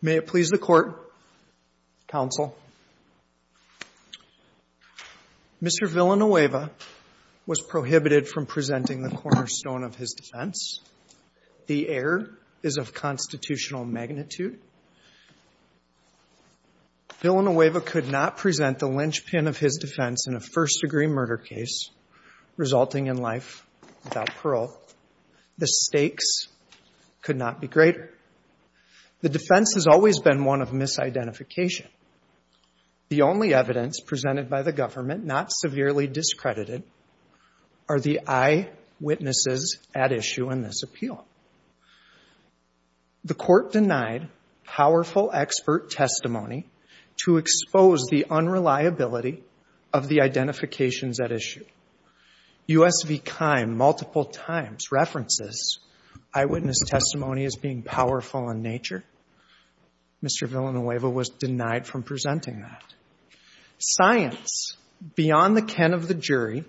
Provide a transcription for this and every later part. May it please the Court, Counsel, Mr. Villanueva was prohibited from presenting the cornerstone of his defense. The error is of constitutional magnitude. Villanueva could not present the linchpin of his defense in a first-degree murder case resulting in life without parole. The stakes could not be greater. The defense has always been one of misidentification. The only evidence presented by the government not severely discredited are the eyewitnesses at issue in this appeal. The Court denied powerful expert testimony to expose the unreliability of the identifications at issue. U.S. v. Kime multiple times references eyewitness testimony as being powerful in nature. Mr. Villanueva was denied from presenting that. Science beyond the ken of the jury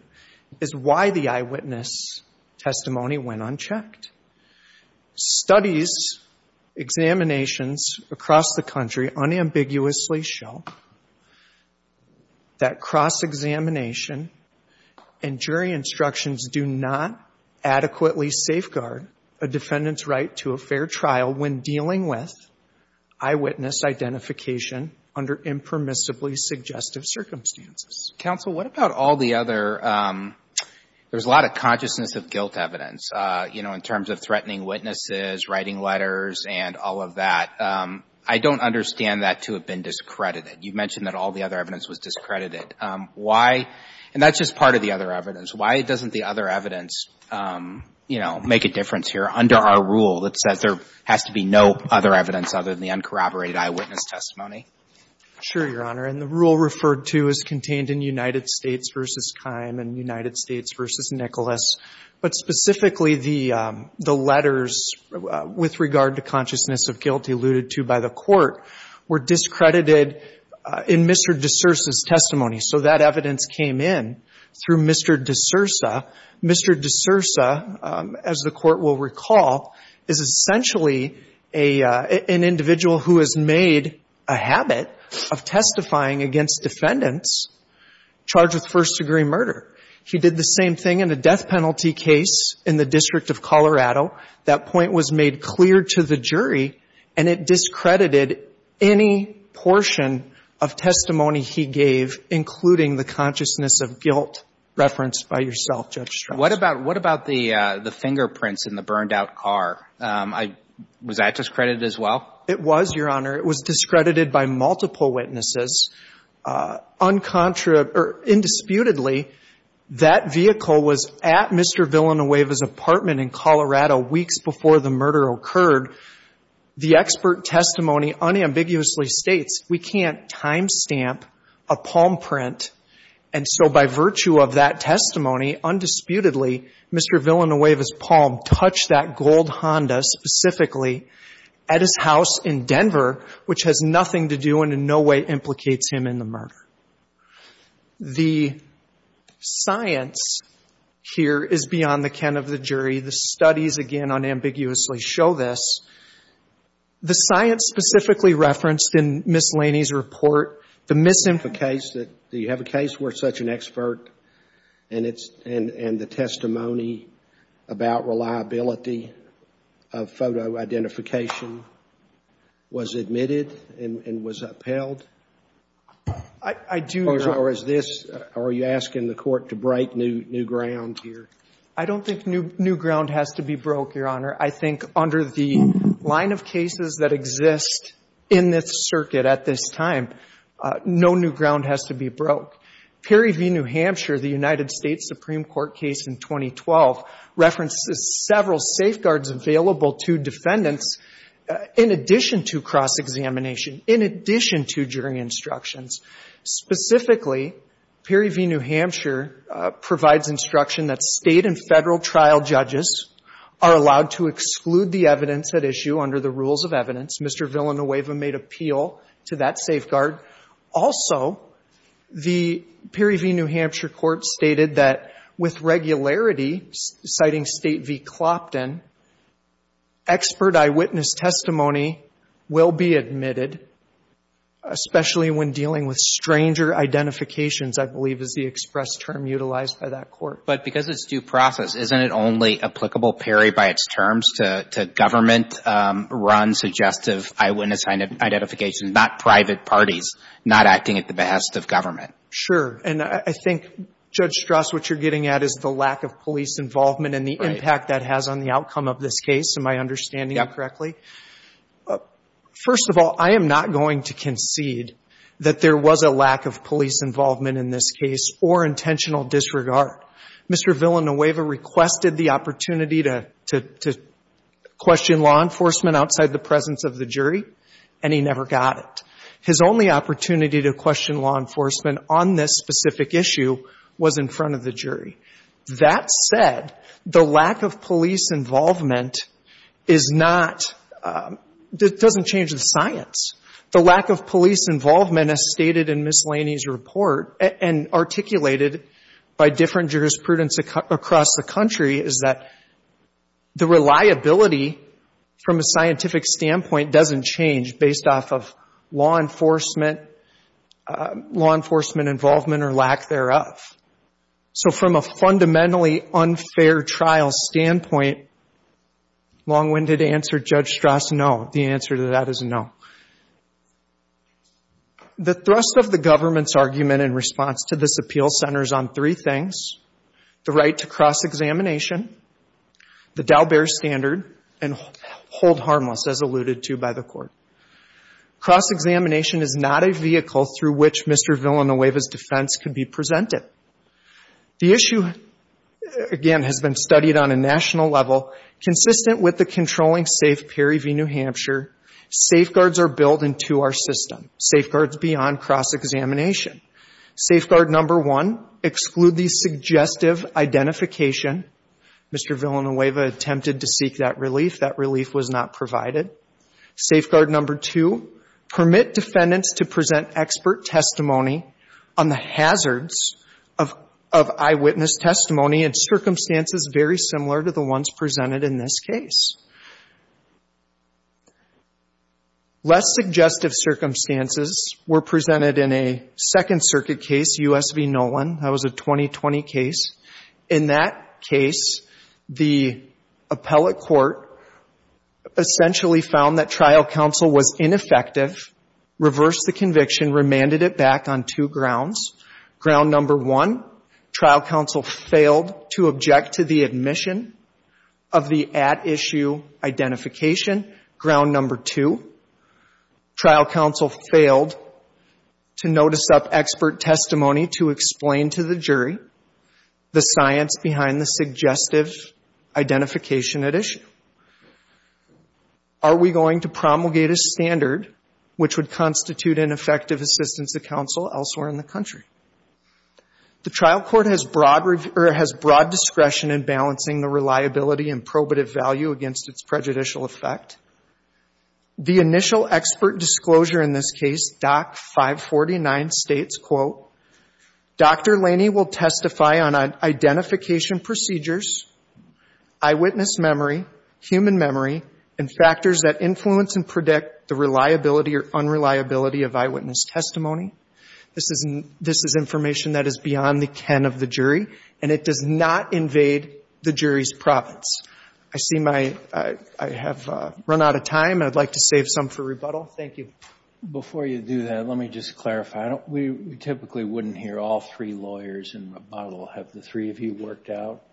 is why the eyewitness testimony went unchecked. Studies, examinations across the country unambiguously show that cross-examination and jury instructions do not adequately safeguard a defendant's right to a fair trial when dealing with eyewitness identification under impermissibly suggestive circumstances. Counsel, what about all the other, there's a lot of consciousness of guilt evidence, you know, in terms of threatening witnesses, writing letters, and all of that. I don't understand that to have been discredited. You mentioned that all the other evidence was discredited. Why, and that's just part of the other evidence, why doesn't the other evidence, you know, make a difference here under our rule that says there has to be no other evidence other than the uncorroborated eyewitness testimony? Sure, Your Honor. And the rule referred to is contained in United States v. Kime and United States v. Nicholas. But specifically, the letters with regard to consciousness of guilt alluded to by the Court were discredited in Mr. D'Souza's testimony. So that evidence came in through Mr. D'Souza. Mr. D'Souza, as the Court will recall, is essentially an individual who has made a habit of testifying against defendants charged with first-degree murder. He did the same thing in a death penalty case in the District of Colorado. That point was made clear to the jury, and it discredited any portion of testimony he gave, including the consciousness of guilt referenced by yourself, Judge Strauss. What about the fingerprints in the burned-out car? Was that discredited as well? It was, Your Honor. It was discredited by multiple witnesses. Indisputably, that vehicle was at Mr. Villanueva's apartment in Colorado weeks before the murder occurred. The expert testimony unambiguously states we can't time stamp a palm print. And so by virtue of that testimony, undisputedly, Mr. Villanueva's palm touched that gold Honda, specifically, at his house in Denver, which has nothing to do and in no way implicates him in the murder. The science here is beyond the ken of the jury. The studies, again, unambiguously show this. The science specifically referenced in Ms. Laney's report, the mis- Do you have a case where such an expert and the testimony about reliability of photo identification was admitted and was upheld? I do, Your Honor. Or is this, are you asking the court to break new ground here? I don't think new ground has to be broke, Your Honor. I think under the line of cases that exist in this circuit at this time, no new ground has to be broke. Perry v. New Hampshire, the United States Supreme Court case in 2012, references several safeguards available to defendants in addition to cross-examination, in addition to jury instructions. Specifically, Perry v. New Hampshire provides instruction that State and Federal trial judges are allowed to exclude the evidence at issue under the rules of evidence. Mr. Villanueva made appeal to that safeguard. Also, the Perry v. New Hampshire court stated that with regularity, citing State v. Clopton, expert eyewitness testimony will be admitted, especially when dealing with stranger identifications, I believe, is the express term utilized by that court. But because it's due process, isn't it only applicable, Perry, by its terms to government-run suggestive eyewitness identification, not private parties not acting at the behest of government? Sure. And I think, Judge Strass, what you're getting at is the lack of police involvement and the impact that has on the outcome of this case, am I understanding you correctly? Yeah. First of all, I am not going to concede that there was a lack of police involvement in this case or intentional disregard. Mr. Villanueva requested the opportunity to question law enforcement outside the presence of the jury, and he never got it. His only opportunity to question law enforcement on this specific issue was in front of the jury. That said, the lack of police involvement is not, it doesn't change the science. The lack of police involvement, as stated in Ms. Laney's report and articulated by different jurisprudence across the country, is that the reliability from a scientific standpoint doesn't change based off of law enforcement, law enforcement involvement or lack thereof. So from a fundamentally unfair trial standpoint, long-winded answer, Judge Strass, the answer to that is no. The thrust of the government's argument in response to this appeal centers on three things, the right to cross-examination, the Daubert standard, and hold harmless, as alluded to by the court. Cross-examination is not a vehicle through which Mr. Villanueva's defense could be presented. The issue, again, has been studied on a national level, consistent with the controlling safe Perry v. New Hampshire. Safeguards are built into our system, safeguards beyond cross-examination. Safeguard number one, exclude the suggestive identification. Mr. Villanueva attempted to seek that relief. That relief was not provided. Safeguard number two, permit defendants to present expert testimony on the hazards of trial. That was presented in this case. Less suggestive circumstances were presented in a Second Circuit case, U.S. v. Nolan. That was a 2020 case. In that case, the appellate court essentially found that trial counsel was ineffective, reversed the conviction, remanded it back on two grounds. Ground number one, trial counsel failed to object to the admission of the at-issue identification. Ground number two, trial counsel failed to notice up expert testimony to explain to the jury the science behind the suggestive identification at issue. Are we going to promulgate a standard which would constitute an effective assistance to counsel elsewhere in the country? The trial court has broad discretion in balancing the reliability and probative value against its prejudicial effect. The initial expert disclosure in this case, Doc 549, states, quote, Dr. Laney will testify on identification procedures, eyewitness memory, human memory, and factors that influence and predict the reliability or unreliability of eyewitness testimony. This is information that is beyond the ken of the jury, and it does not invade the jury's province. I see my, I have run out of time. I'd like to save some for rebuttal. Thank you. Before you do that, let me just clarify. We typically wouldn't hear all three lawyers in rebuttal. Have the three of you worked out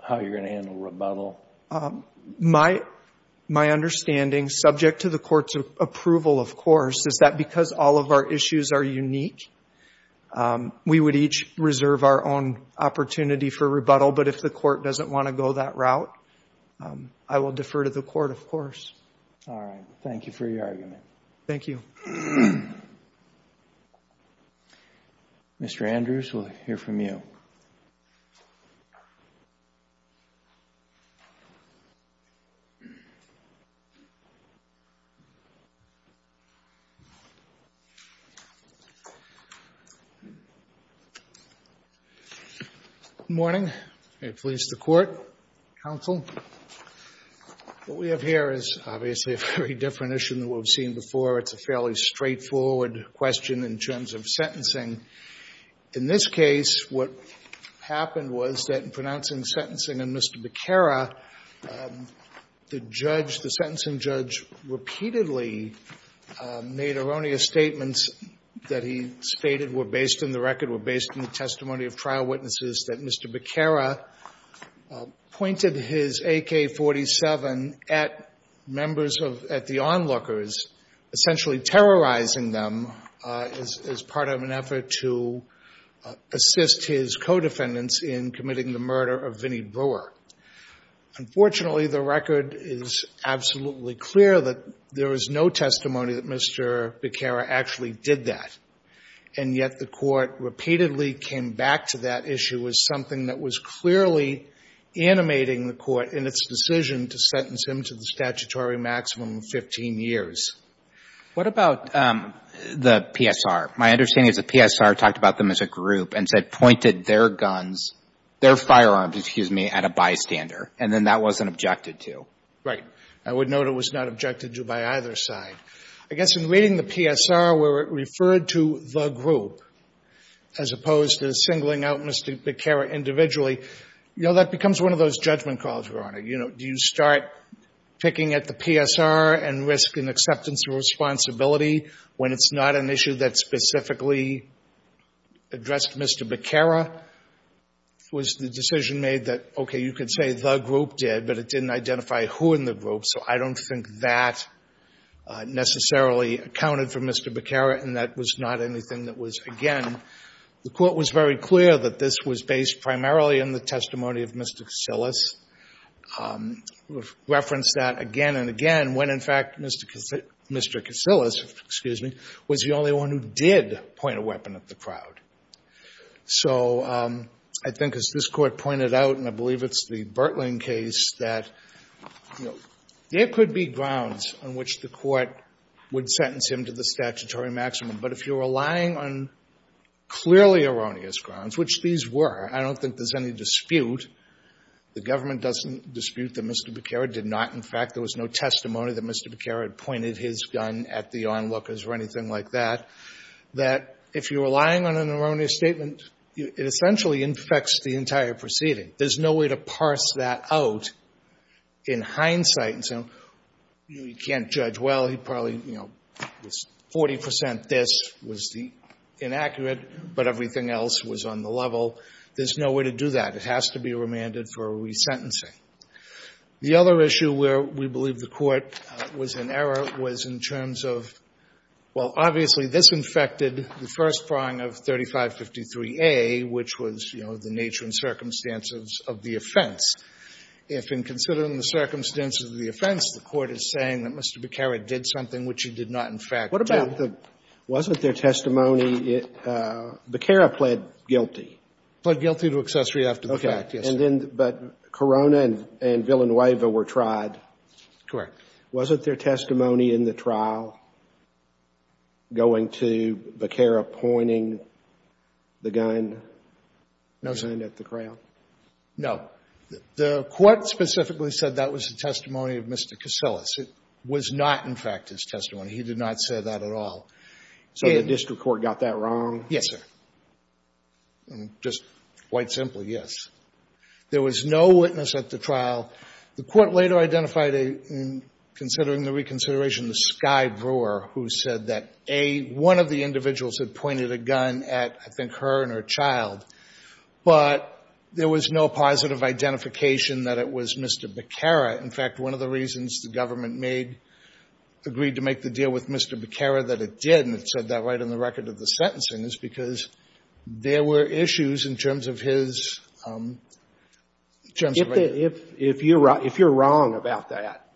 how you're going to handle rebuttal? My understanding, subject to the court's approval, of course, is that because all of our opportunity for rebuttal, but if the court doesn't want to go that route, I will defer to the court, of course. All right. Thank you for your argument. Thank you. Mr. Andrews, we'll hear from you. Good morning. May it please the court, counsel. What we have here is obviously a very different issue than what we've seen before. It's a fairly straightforward question in terms of sentencing. In this case, what happened was that in pronouncing sentencing on Mr. Becerra, the judge, the sentencing judge, repeatedly made erroneous statements that he stated were based on the testimony of trial witnesses that Mr. Becerra pointed his AK-47 at the onlookers, essentially terrorizing them as part of an effort to assist his co-defendants in committing the murder of Vinny Brewer. Unfortunately, the record is absolutely clear that there was no testimony that Mr. Becerra actually did that, and yet the court repeatedly came back to that issue as something that was clearly animating the court in its decision to sentence him to the statutory maximum of 15 years. What about the PSR? My understanding is the PSR talked about them as a group and said pointed their guns, their firearms, excuse me, at a bystander, and then that wasn't objected to. Right. I would note it was not objected to by either side. I guess in reading the PSR where it referred to the group as opposed to singling out Mr. Becerra individually, you know, that becomes one of those judgment calls, Your Honor. You know, do you start picking at the PSR and risk an acceptance of responsibility when it's not an issue that specifically addressed Mr. Becerra? Was the decision made that, okay, you could say the group, so I don't think that necessarily accounted for Mr. Becerra, and that was not anything that was, again, the court was very clear that this was based primarily on the testimony of Mr. Casillas, referenced that again and again, when in fact Mr. Casillas, excuse me, was the only one who did point a weapon at the crowd. So I think as this Court pointed out, and I believe it's the case, there could be grounds on which the Court would sentence him to the statutory maximum. But if you're relying on clearly erroneous grounds, which these were, I don't think there's any dispute, the government doesn't dispute that Mr. Becerra did not, in fact, there was no testimony that Mr. Becerra had pointed his gun at the onlookers or anything like that, that if you're relying on an erroneous statement, it essentially infects the entire proceeding. There's no way to parse that out in hindsight. You can't judge, well, he probably, you know, 40 percent this was the inaccurate, but everything else was on the level. There's no way to do that. It has to be remanded for resentencing. The other issue where we believe the Court was in error was in terms of, well, obviously, this infected the first prong of 3553A, which was, you know, the nature and circumstances of the offense. If in considering the circumstances of the offense, the Court is saying that Mr. Becerra did something which he did not, in fact, do. What about the wasn't there testimony, Becerra pled guilty? He pled guilty to accessory after the fact, yes, sir. Okay. And then, but Corona and Villanueva were tried. Correct. Wasn't there testimony in the trial going to Becerra pointing the gun at the crowd? No. The Court specifically said that was the testimony of Mr. Casillas. It was not, in fact, his testimony. He did not say that at all. So the district court got that wrong? Yes, sir. Just quite simply, yes. There was no witness at the trial. The Court later identified, in considering the reconsideration, the Sky Brewer, who said that, A, one of the individuals had pointed a gun at, I think, her and her child. But there was no positive identification that it was Mr. Becerra. In fact, one of the reasons the government made, agreed to make the deal with Mr. Becerra that it did, and it said that right on the record of the sentencing, is because there were issues in terms of his, in terms of his... If you're wrong about that,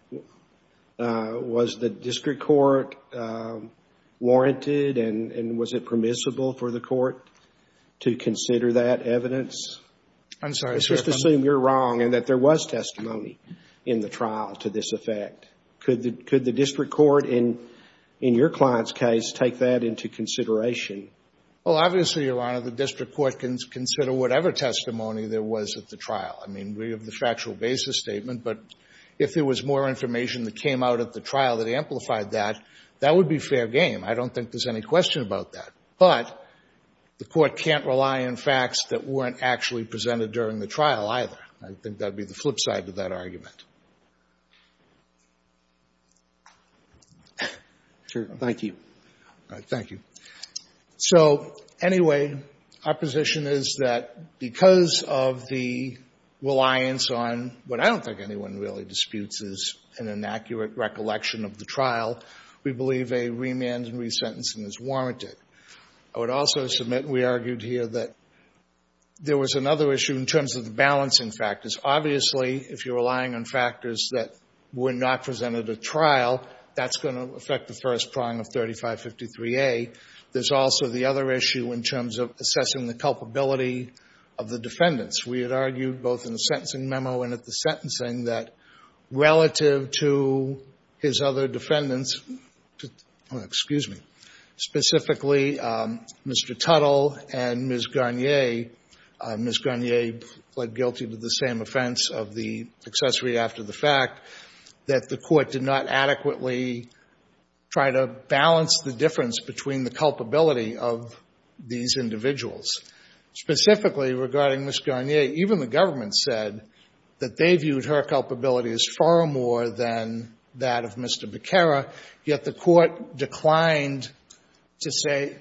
was the district court warranted and was it permissible for the court to consider that evidence? I'm sorry, sir. Let's just assume you're wrong and that there was testimony in the trial to this effect. Could the district court, in your client's case, take that into consideration? Well, obviously, Your Honor, the district court can consider whatever testimony there was at the trial. I mean, we have the factual basis statement, but if there was more information that came out at the trial that amplified that, that would be fair game. I don't think there's any question about that. But the court can't rely on facts that weren't actually presented during the trial, either. I think that'd be the flip side of that argument. Sure. Thank you. All right. Thank you. So, anyway, our position is that because of the reliance on what I don't think anyone really disputes is an inaccurate recollection of the trial, we believe a remand and resentencing is warranted. I would also submit we argued here that there was another issue in terms of the balancing factors. Obviously, if you're relying on factors that were not presented at trial, that's going to affect the first prong of 3553A. There's also the other issue in terms of assessing the culpability of the defendants. We had argued both in the sentencing memo and at the sentencing that relative to his other defendants, excuse me, specifically Mr. Tuttle and Ms. Garnier, Ms. Garnier pled guilty to the same offense of the accessory after the fact, that the court did not adequately try to balance the difference between the culpability of these individuals. Specifically, regarding Ms. Garnier, even the government said that they viewed her culpability as far more than that of Mr. Becerra, yet the court declined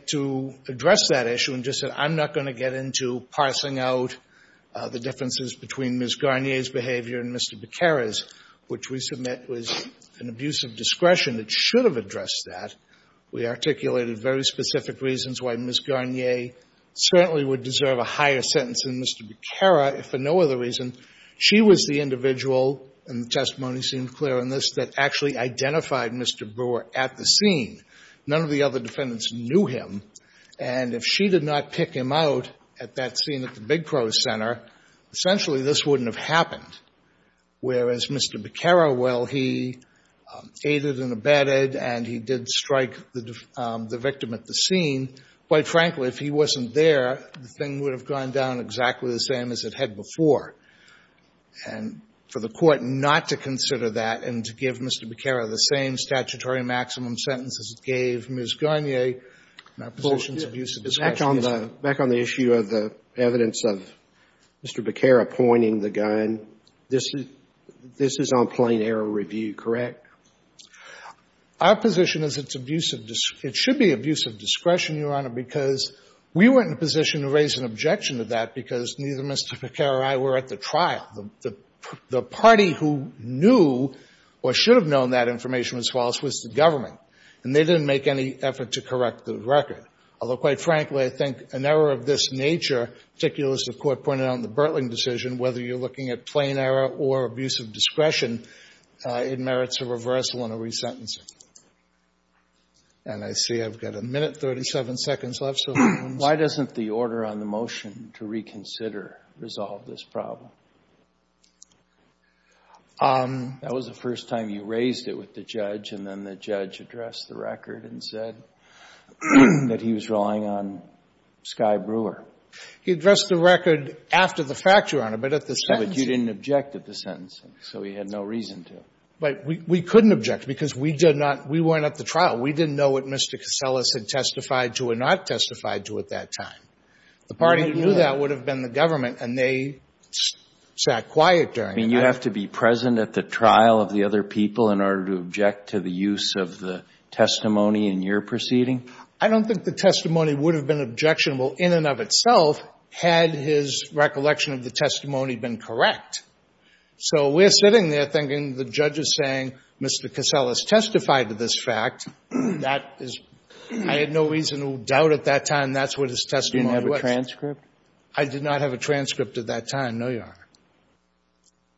to address that issue and just said, I'm not going to get into parsing out the differences between Ms. Garnier's and Mr. Becerra's, which we submit was an abuse of discretion that should have addressed that. We articulated very specific reasons why Ms. Garnier certainly would deserve a higher sentence than Mr. Becerra for no other reason. She was the individual, and the testimony seemed clear on this, that actually identified Mr. Brewer at the scene. None of the other defendants knew him, and if she did not pick him out at that scene at the Big Crow Center, essentially, this wouldn't have happened, whereas Mr. Becerra, while he aided and abetted and he did strike the victim at the scene, quite frankly, if he wasn't there, the thing would have gone down exactly the same as it had before. And for the court not to consider that and to give Mr. Becerra the same statutory maximum sentence as it gave Ms. Garnier, my position is abuse of discretion is not evidence of Mr. Becerra pointing the gun. This is on plain error review, correct? Our position is it should be abuse of discretion, Your Honor, because we weren't in a position to raise an objection to that because neither Mr. Becerra or I were at the trial. The party who knew or should have known that information was false was the government, and they didn't make any effort to correct the record, although, quite frankly, I think an error of this nature, particularly as the court pointed out in the Birtling decision, whether you're looking at plain error or abuse of discretion, it merits a reversal and a resentencing. And I see I've got a minute, 37 seconds left, so if you want to start. Why doesn't the order on the motion to reconsider resolve this problem? That was the first time you raised it with the judge, and then the judge addressed the record after the fact, Your Honor, but at the sentence. But you didn't object at the sentence, so he had no reason to. But we couldn't object because we did not — we weren't at the trial. We didn't know what Mr. Casellas had testified to or not testified to at that time. The party who knew that would have been the government, and they sat quiet during it. I mean, you have to be present at the trial of the other people in order to object to the use of the testimony in your proceeding? I don't think the testimony would have been objectionable in and of itself had his recollection of the testimony been correct. So we're sitting there thinking the judge is saying Mr. Casellas testified to this fact. That is — I had no reason to doubt at that time that's what his testimony was. You didn't have a transcript? I did not have a transcript at that time, no, Your Honor.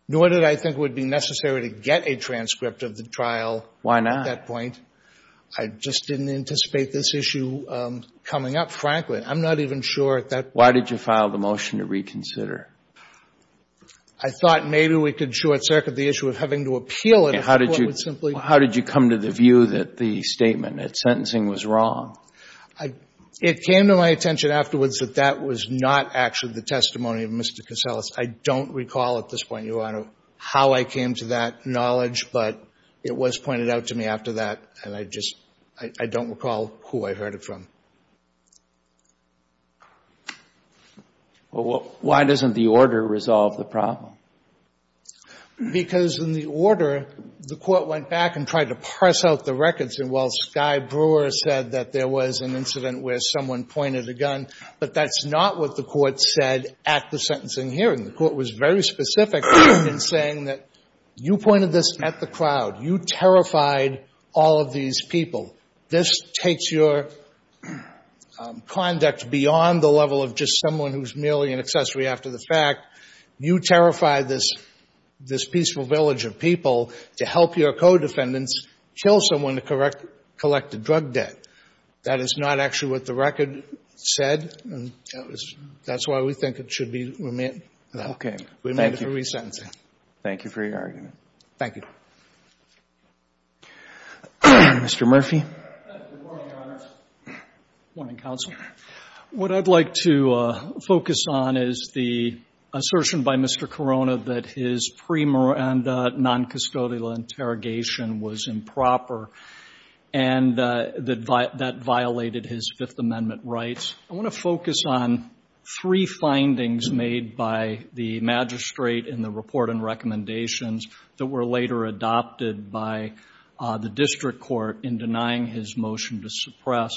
Nor did I think it would be necessary to get a transcript of the trial at that point. Why not? I just didn't anticipate this issue coming up, frankly. I'm not even sure at that point. Why did you file the motion to reconsider? I thought maybe we could short-circuit the issue of having to appeal it if the Court would simply — How did you come to the view that the statement, that sentencing was wrong? I — it came to my attention afterwards that that was not actually the testimony of Mr. Casellas. I don't recall at this point, Your Honor, how I came to that knowledge, but it was and I just — I don't recall who I heard it from. Well, why doesn't the order resolve the problem? Because in the order, the Court went back and tried to parse out the records and while Skye Brewer said that there was an incident where someone pointed a gun, but that's not what the Court said at the sentencing hearing. The Court was very specific in saying that you pointed this at the crowd. You terrified all of these people. This takes your conduct beyond the level of just someone who's merely an accessory after the fact. You terrified this peaceful village of people to help your co-defendants kill someone to collect the drug debt. That is not actually what the record said and that's why we think it should be — Okay. Thank you. — remanded for resentencing. Thank you for your argument. Thank you. Mr. Murphy. Good morning, Your Honors. Good morning, Counsel. What I'd like to focus on is the assertion by Mr. Corona that his pre-Miranda non-custodial interrogation was improper and that violated his Fifth Amendment rights. I want to focus on three findings made by the magistrate in the report and recommendations that were later adopted by the district court in denying his motion to suppress.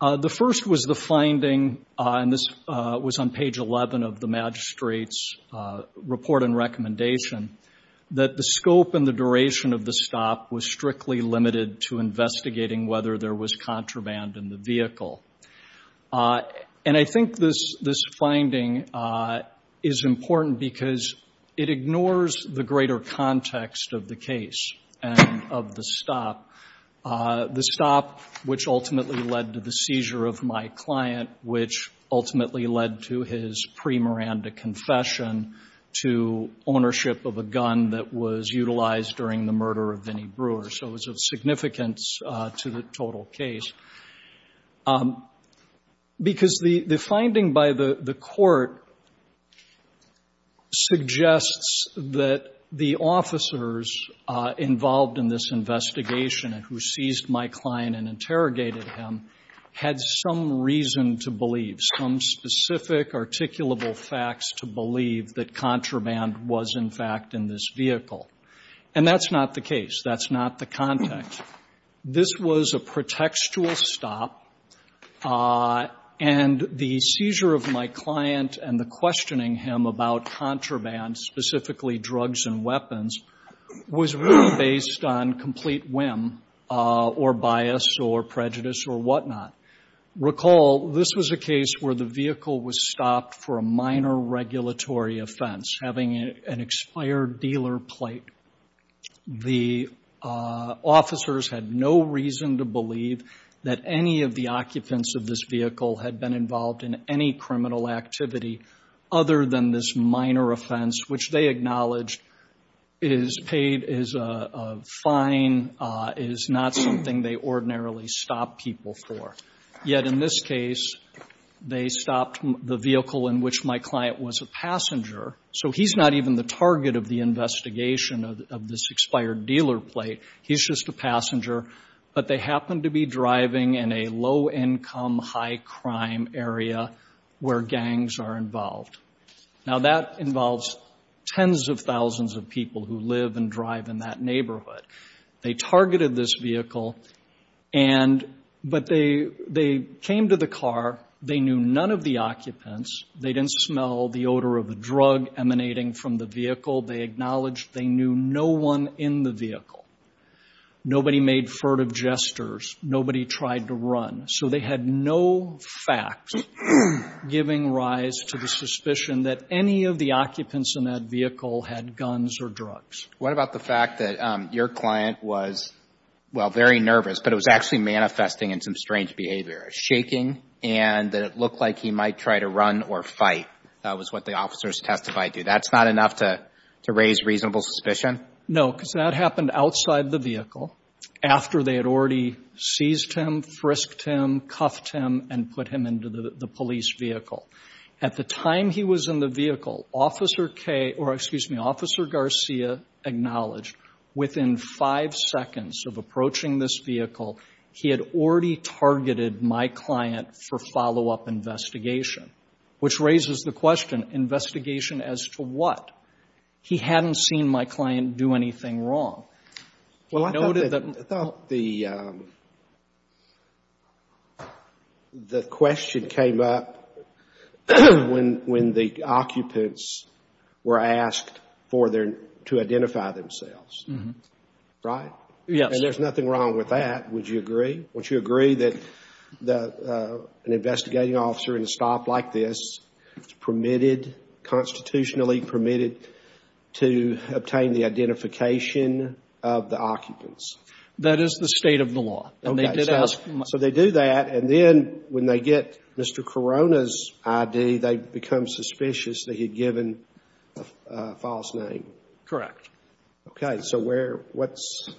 The first was the finding — and this was on page 11 of the magistrate's report and recommendation — that the scope and the duration of the stop was strictly limited to investigating whether there was contraband in the vehicle. And I think this finding is important because it ignores the greater context of the case and of the stop — the stop which ultimately led to the seizure of my client, which ultimately led to his pre-Miranda confession to ownership of a gun that was utilized during the murder of Vinnie Brewer. So it was of significance to the total case. Because the finding by the court suggests that the officers involved in this investigation who seized my client and interrogated him had some reason to believe, some specific articulable facts to believe that contraband was, in fact, in this vehicle. And that's not the case. That's not the context. This was a pretextual stop, and the seizure of my client and the questioning him about contraband, specifically drugs and weapons, was really based on complete whim or bias or prejudice or whatnot. Recall, this was a case where the vehicle was stopped for a minor regulatory offense, having an expired dealer plate. The officers had no reason to believe that any of the occupants of this vehicle had been involved in any criminal activity other than this minor offense, which they acknowledged is paid as a fine, is not something they ordinarily stop people for. Yet in this case, they stopped the vehicle in which my client was a passenger. So he's not even the target of the investigation of this expired dealer plate. He's just a passenger. But they happened to be driving in a low-income, high-crime area where gangs are involved. Now, that involves tens of thousands of people who live and drive in that neighborhood. They targeted this vehicle, but they came to the car. They knew none of the occupants. They didn't smell the odor of a drug emanating from the vehicle. They acknowledged they knew no one in the vehicle. Nobody made furtive gestures. Nobody tried to run. So they had no facts giving rise to the suspicion that any of the occupants in that vehicle had guns or drugs. What about the fact that your client was, well, very nervous, but it was actually manifesting in some strange behavior, shaking, and that it looked like he might try to run or fight. That was what the officers testified to. That's not enough to raise reasonable suspicion? No, because that happened outside the vehicle after they had already seized him, frisked him, cuffed him, and put him into the police vehicle. At the time he was in the vehicle, Officer K or, excuse me, Officer Garcia acknowledged within five seconds of approaching this vehicle, he had already targeted my client for follow-up investigation, which raises the question, investigation as to what? He hadn't seen my client do anything wrong. Well, I thought the question came up when the occupants were asked to identify themselves, right? Yes. And there's nothing wrong with that, would you agree? Would you agree that an investigating officer in a stop like this is permitted, constitutionally permitted, to obtain the identification of the occupants? That is the state of the law. So they do that, and then when they get Mr. Corona's ID, they become suspicious that he'd given a false name? Correct. Okay. So where, what's the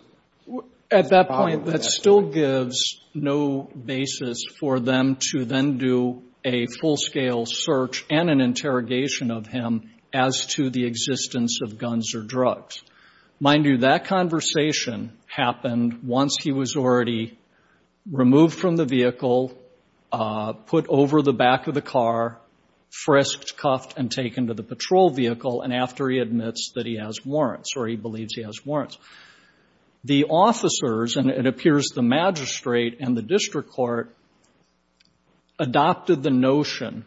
problem with that? At that point, that still gives no basis for them to then do a full-scale search and an interrogation of him as to the existence of guns or drugs. Mind you, that conversation happened once he was already removed from the vehicle, put over the back of the car, frisked, cuffed, and taken to the patrol vehicle, and after he admits that he has warrants or he believes he has warrants. The officers, and it appears the magistrate and the district court, adopted the notion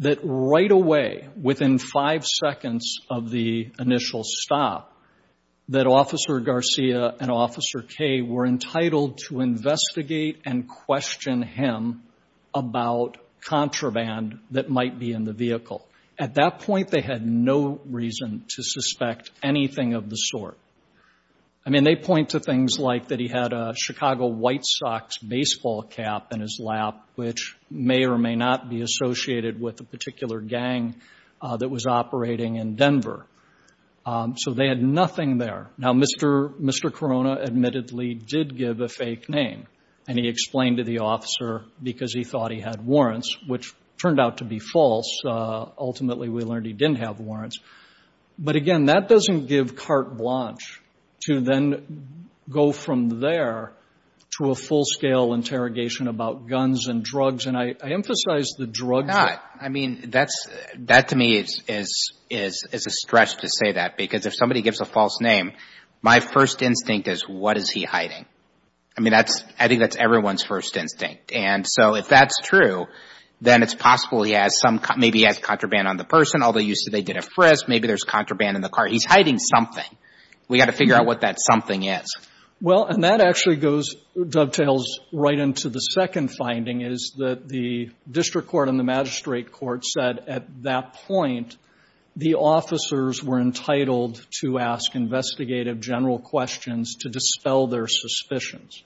that right away, within five seconds of the initial stop, that Officer Garcia and Officer Kay were entitled to investigate and question him about contraband that might be in the vehicle. At that point, they had no reason to suspect anything of the sort. I mean, they point to things like that he had a Chicago White Sox baseball cap in his lap, which may or may not be associated with a particular gang that was operating in Denver. So they had nothing there. Now, Mr. Corona admittedly did give a fake name, and he explained to the officer because he thought he had warrants, which turned out to be false. Ultimately, we learned he didn't have warrants. But again, that doesn't give carte blanche to then go from there to a full-scale interrogation about guns and drugs. And I emphasize the drugs. I mean, that to me is a stretch to say that, because if somebody gives a false name, my first instinct is, what is he hiding? I mean, I think that's everyone's first instinct. And so if that's true, then it's possible he has some – maybe he has contraband on the person, although you said they did a frisk. Maybe there's contraband in the car. He's hiding something. We've got to figure out what that something is. Well, and that actually goes – dovetails right into the second finding is that the district court and the magistrate court said at that point the officers were entitled to ask investigative general questions to dispel their suspicions.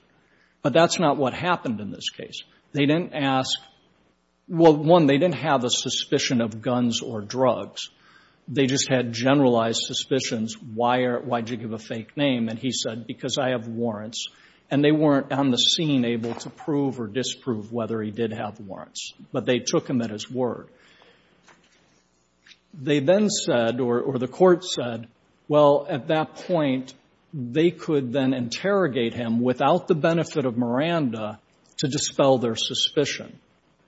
But that's not what happened in this case. They didn't ask – well, one, they didn't have a suspicion of guns or drugs. They just had generalized suspicions. Why did you give a fake name? And he said, because I have warrants. And they weren't on the scene able to prove or disprove whether he did have warrants. But they took him at his word. They then said, or the court said, well, at that point, they could then interrogate him without the benefit of Miranda to dispel their suspicion.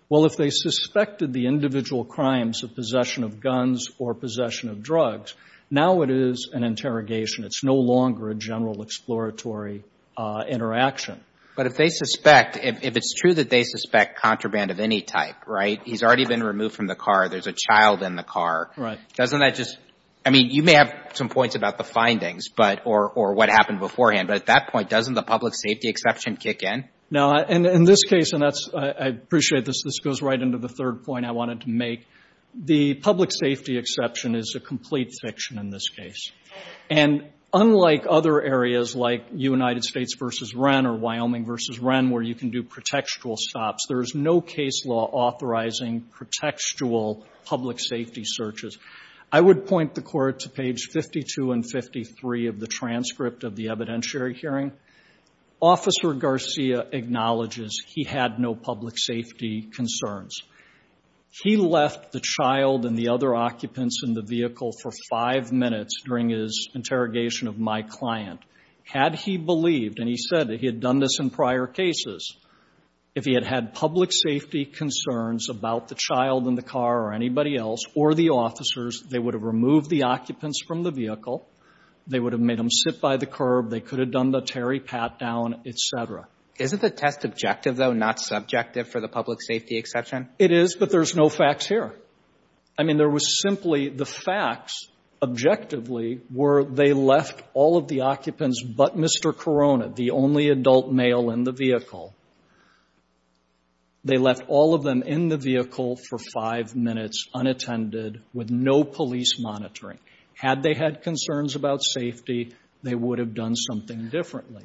Well, if they suspected the individual crimes of possession of guns or possession of drugs, now it is an interrogation. It's no longer a general exploratory interaction. But if they suspect – if it's true that they suspect contraband of any type, right, he's already been removed from the car, there's a child in the car. Right. Doesn't that just – I mean, you may have some points about the findings, but – or what happened beforehand. But at that point, doesn't the public safety exception kick in? No. In this case – and that's – I appreciate this. This goes right into the third point I wanted to make. The public safety exception is a complete fiction in this case. And unlike other areas like United States v. Wren or Wyoming v. Wren, where you can do pretextual stops, there is no case law authorizing pretextual public safety searches. I would point the Court to page 52 and 53 of the transcript of the evidentiary hearing. Officer Garcia acknowledges he had no public safety concerns. He left the child and the other occupants in the vehicle for five minutes during his interrogation of my client. Had he believed, and he said that he had done this in prior cases, if he had had public safety concerns about the child in the car or anybody else or the officers, they would have removed the occupants from the vehicle. They would have made them sit by the curb. They could have done the Terry Pat down, et cetera. Isn't the test objective, though, not subjective for the public safety exception? It is, but there's no facts here. I mean, there was simply – the facts, objectively, were they left all of the occupants but Mr. Corona, the only adult male in the vehicle. They left all of them in the vehicle for five minutes unattended with no police monitoring. Had they had concerns about safety, they would have done something differently.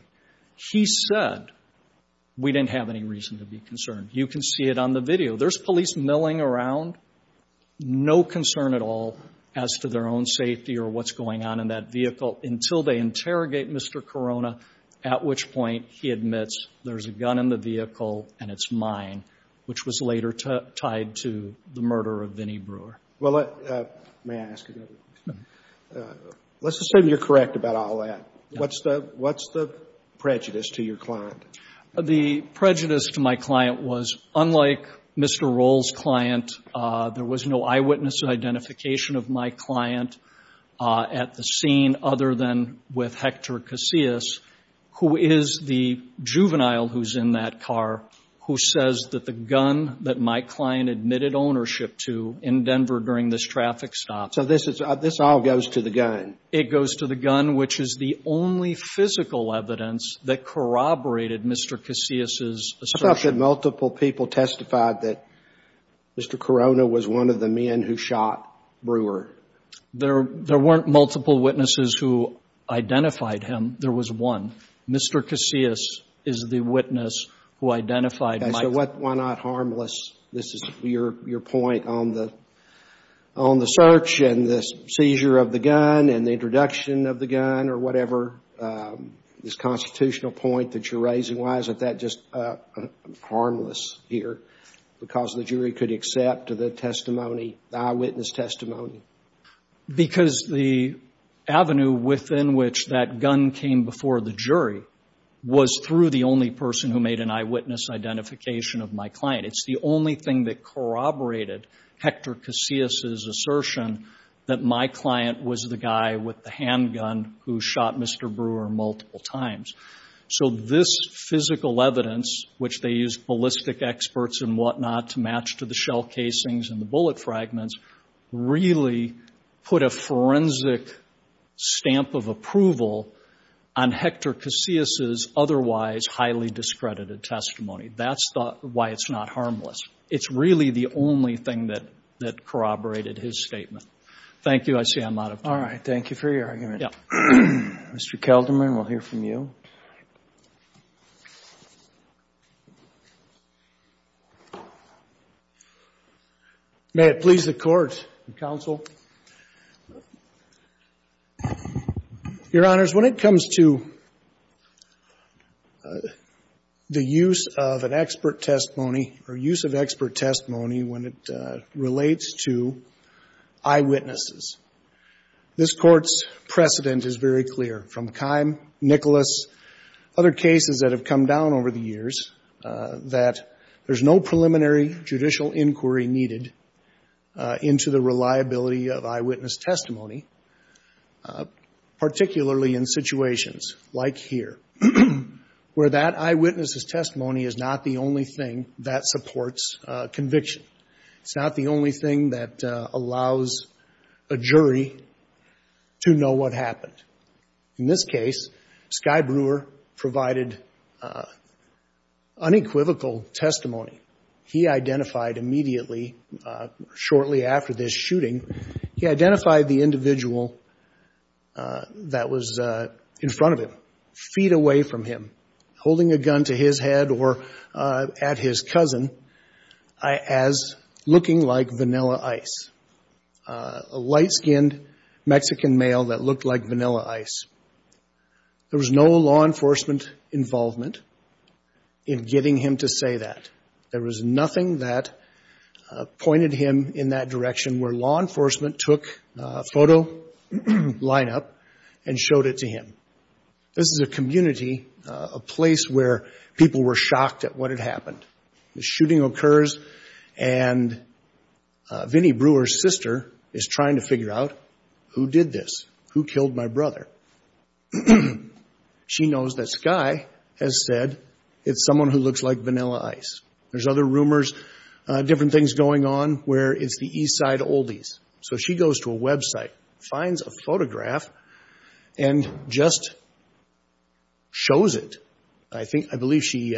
He said, we didn't have any reason to be concerned. You can see it on the video. There's police milling around, no concern at all as to their own safety or what's going on in that vehicle until they interrogate Mr. Corona, at which point he admits there's a gun in the vehicle and it's mine, which was later tied to the murder of Vinnie Brewer. May I ask another question? Let's assume you're correct about all that. What's the prejudice to your client? The prejudice to my client was, unlike Mr. Roll's client, there was no eyewitness identification of my client at the scene, other than with Hector Casillas, who is the juvenile who's in that car, who says that the gun that my client admitted ownership to in Denver during this traffic stop. So this all goes to the gun. It goes to the gun, which is the only physical evidence that corroborated Mr. Casillas' assertion. It's not that multiple people testified that Mr. Corona was one of the men who shot Brewer. There weren't multiple witnesses who identified him. There was one. Mr. Casillas is the witness who identified my client. Why not harmless? This is your point on the search and the seizure of the gun and the introduction of the gun or whatever, this constitutional point that you're raising. Why is that just harmless here? Because the jury could accept the testimony, the eyewitness testimony. Because the avenue within which that gun came before the jury was through the only person who made an eyewitness identification of my client. It's the only thing that corroborated Hector Casillas' assertion that my client was the guy with the handgun who shot Mr. Brewer multiple times. So this physical evidence, which they used ballistic experts and whatnot to match to the shell casings and the bullet fragments, really put a forensic stamp of approval on Hector Casillas' otherwise highly discredited testimony. That's why it's not harmless. It's really the only thing that corroborated his statement. Thank you. I see I'm out of time. Thank you for your argument. Yeah. Mr. Kelderman, we'll hear from you. May it please the Court and counsel. Your Honors, when it comes to the use of an expert testimony or use of expert testimony when it relates to eyewitnesses, this Court's precedent is very clear from Kime, Nicholas, other cases that have come down over the years that there's no preliminary judicial inquiry needed into the reliability of eyewitness testimony, particularly in situations like here, where that eyewitness's testimony is not the only thing that supports conviction. It's not the only thing that allows a jury to know what happened. In this case, Skye Brewer provided unequivocal testimony. He identified immediately, shortly after this shooting, he identified the individual that was in front of him, feet away from him, holding a gun to his head or at his cousin, as looking like Vanilla Ice, a light-skinned Mexican male that looked like Vanilla Ice. There was no law enforcement involvement in getting him to say that. There was nothing that pointed him in that direction where law enforcement took a photo lineup and showed it to him. This is a community, a place where people were shocked at what had happened. The shooting occurs, and Vinnie Brewer's sister is trying to figure out, who did this? Who killed my brother? She knows that Skye has said it's someone who looks like Vanilla Ice. There's other rumors, different things going on, where it's the East Side Oldies. So she goes to a website, finds a photograph, and just shows it. I think, I believe she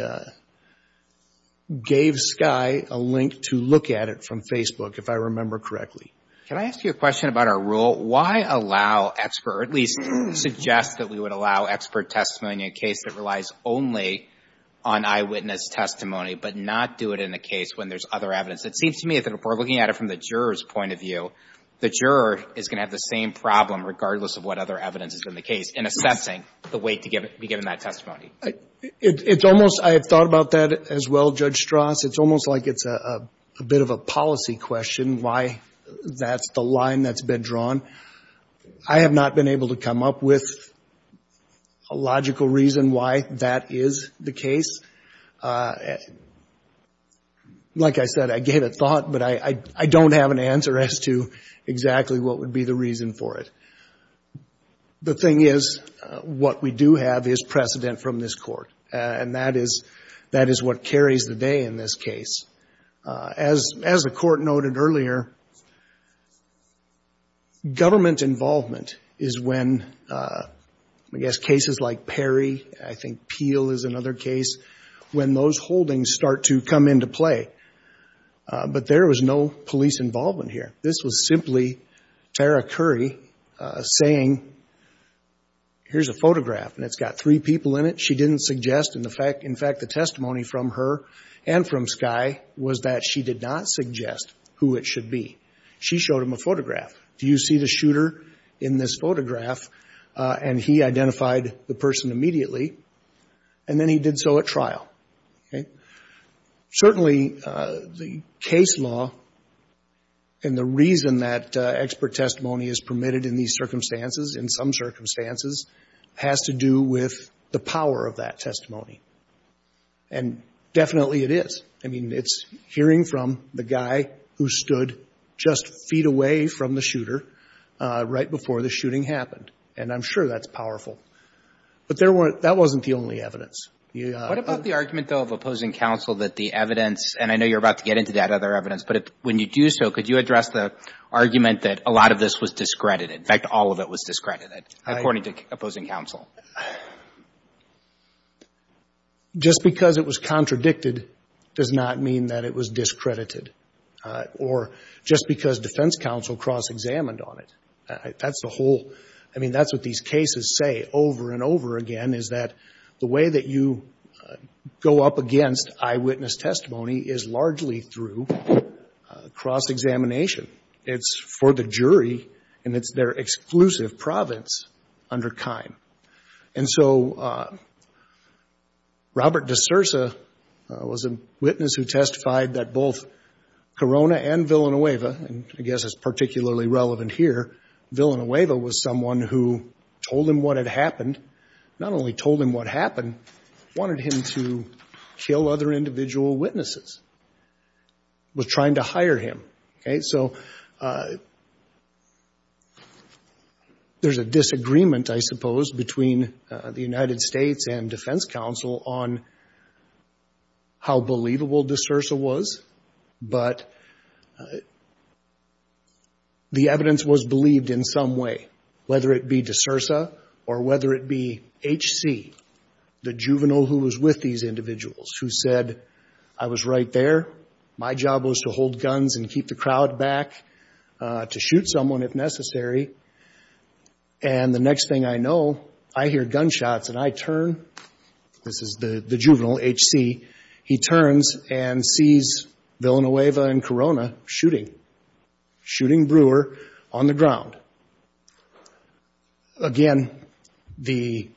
gave Skye a link to look at it from Facebook, if I remember correctly. Can I ask you a question about our rule? Why allow expert, or at least suggest that we would allow expert testimony in a case that relies only on eyewitness testimony, but not do it in a case when there's other evidence? It seems to me that if we're looking at it from the juror's point of view, the juror is going to have the same problem, regardless of what other evidence is in the case, in assessing the weight to be given that testimony. It's almost, I have thought about that as well, Judge Strass. It's almost like it's a bit of a policy question, why that's the line that's been drawn. I have not been able to come up with a logical reason why that is the case. Like I said, I gave it thought, but I don't have an answer as to exactly what would be the reason for it. The thing is, what we do have is precedent from this Court, and that is what carries the day in this case. As the Court noted earlier, government involvement is when, I guess, cases like Perry, I think Peel is another case, when those holdings start to come into play. But there was no police involvement here. This was simply Tara Curry saying, here's a photograph, and it's got three people in it. She didn't suggest. In fact, the testimony from her and from Skye was that she did not suggest who it should be. She showed him a photograph. Do you see the shooter in this photograph? And he identified the person immediately, and then he did so at trial. Certainly, the case law and the reason that expert testimony is permitted in these circumstances, in some circumstances, has to do with the power of that testimony. And definitely it is. I mean, it's hearing from the guy who stood just feet away from the shooter right before the shooting happened, and I'm sure that's powerful. But that wasn't the only evidence. What about the argument, though, of opposing counsel that the evidence, and I know you're about to get into that other evidence, but when you do so, could you address the argument that a lot of this was discredited? In fact, all of it was discredited, according to opposing counsel. Well, just because it was contradicted does not mean that it was discredited, or just because defense counsel cross-examined on it. That's the whole. I mean, that's what these cases say over and over again, is that the way that you go up against eyewitness testimony is largely through cross-examination. It's for the jury, and it's their exclusive province under KINE. And so Robert DeSerza was a witness who testified that both Corona and Villanueva, and I guess it's particularly relevant here, Villanueva was someone who told him what had happened, not only told him what happened, wanted him to kill other individual witnesses, was trying to hire him. Okay? So there's a disagreement, I suppose, between the United States and defense counsel on how believable DeSerza was, but the evidence was believed in some way, whether it be DeSerza or whether it be H.C., the juvenile who was with these individuals, who said, I was right there. My job was to hold guns and keep the crowd back, to shoot someone if necessary, and the next thing I know, I hear gunshots, and I turn. This is the juvenile, H.C. He turns and sees Villanueva and Corona shooting, shooting Brewer on the ground. Again, the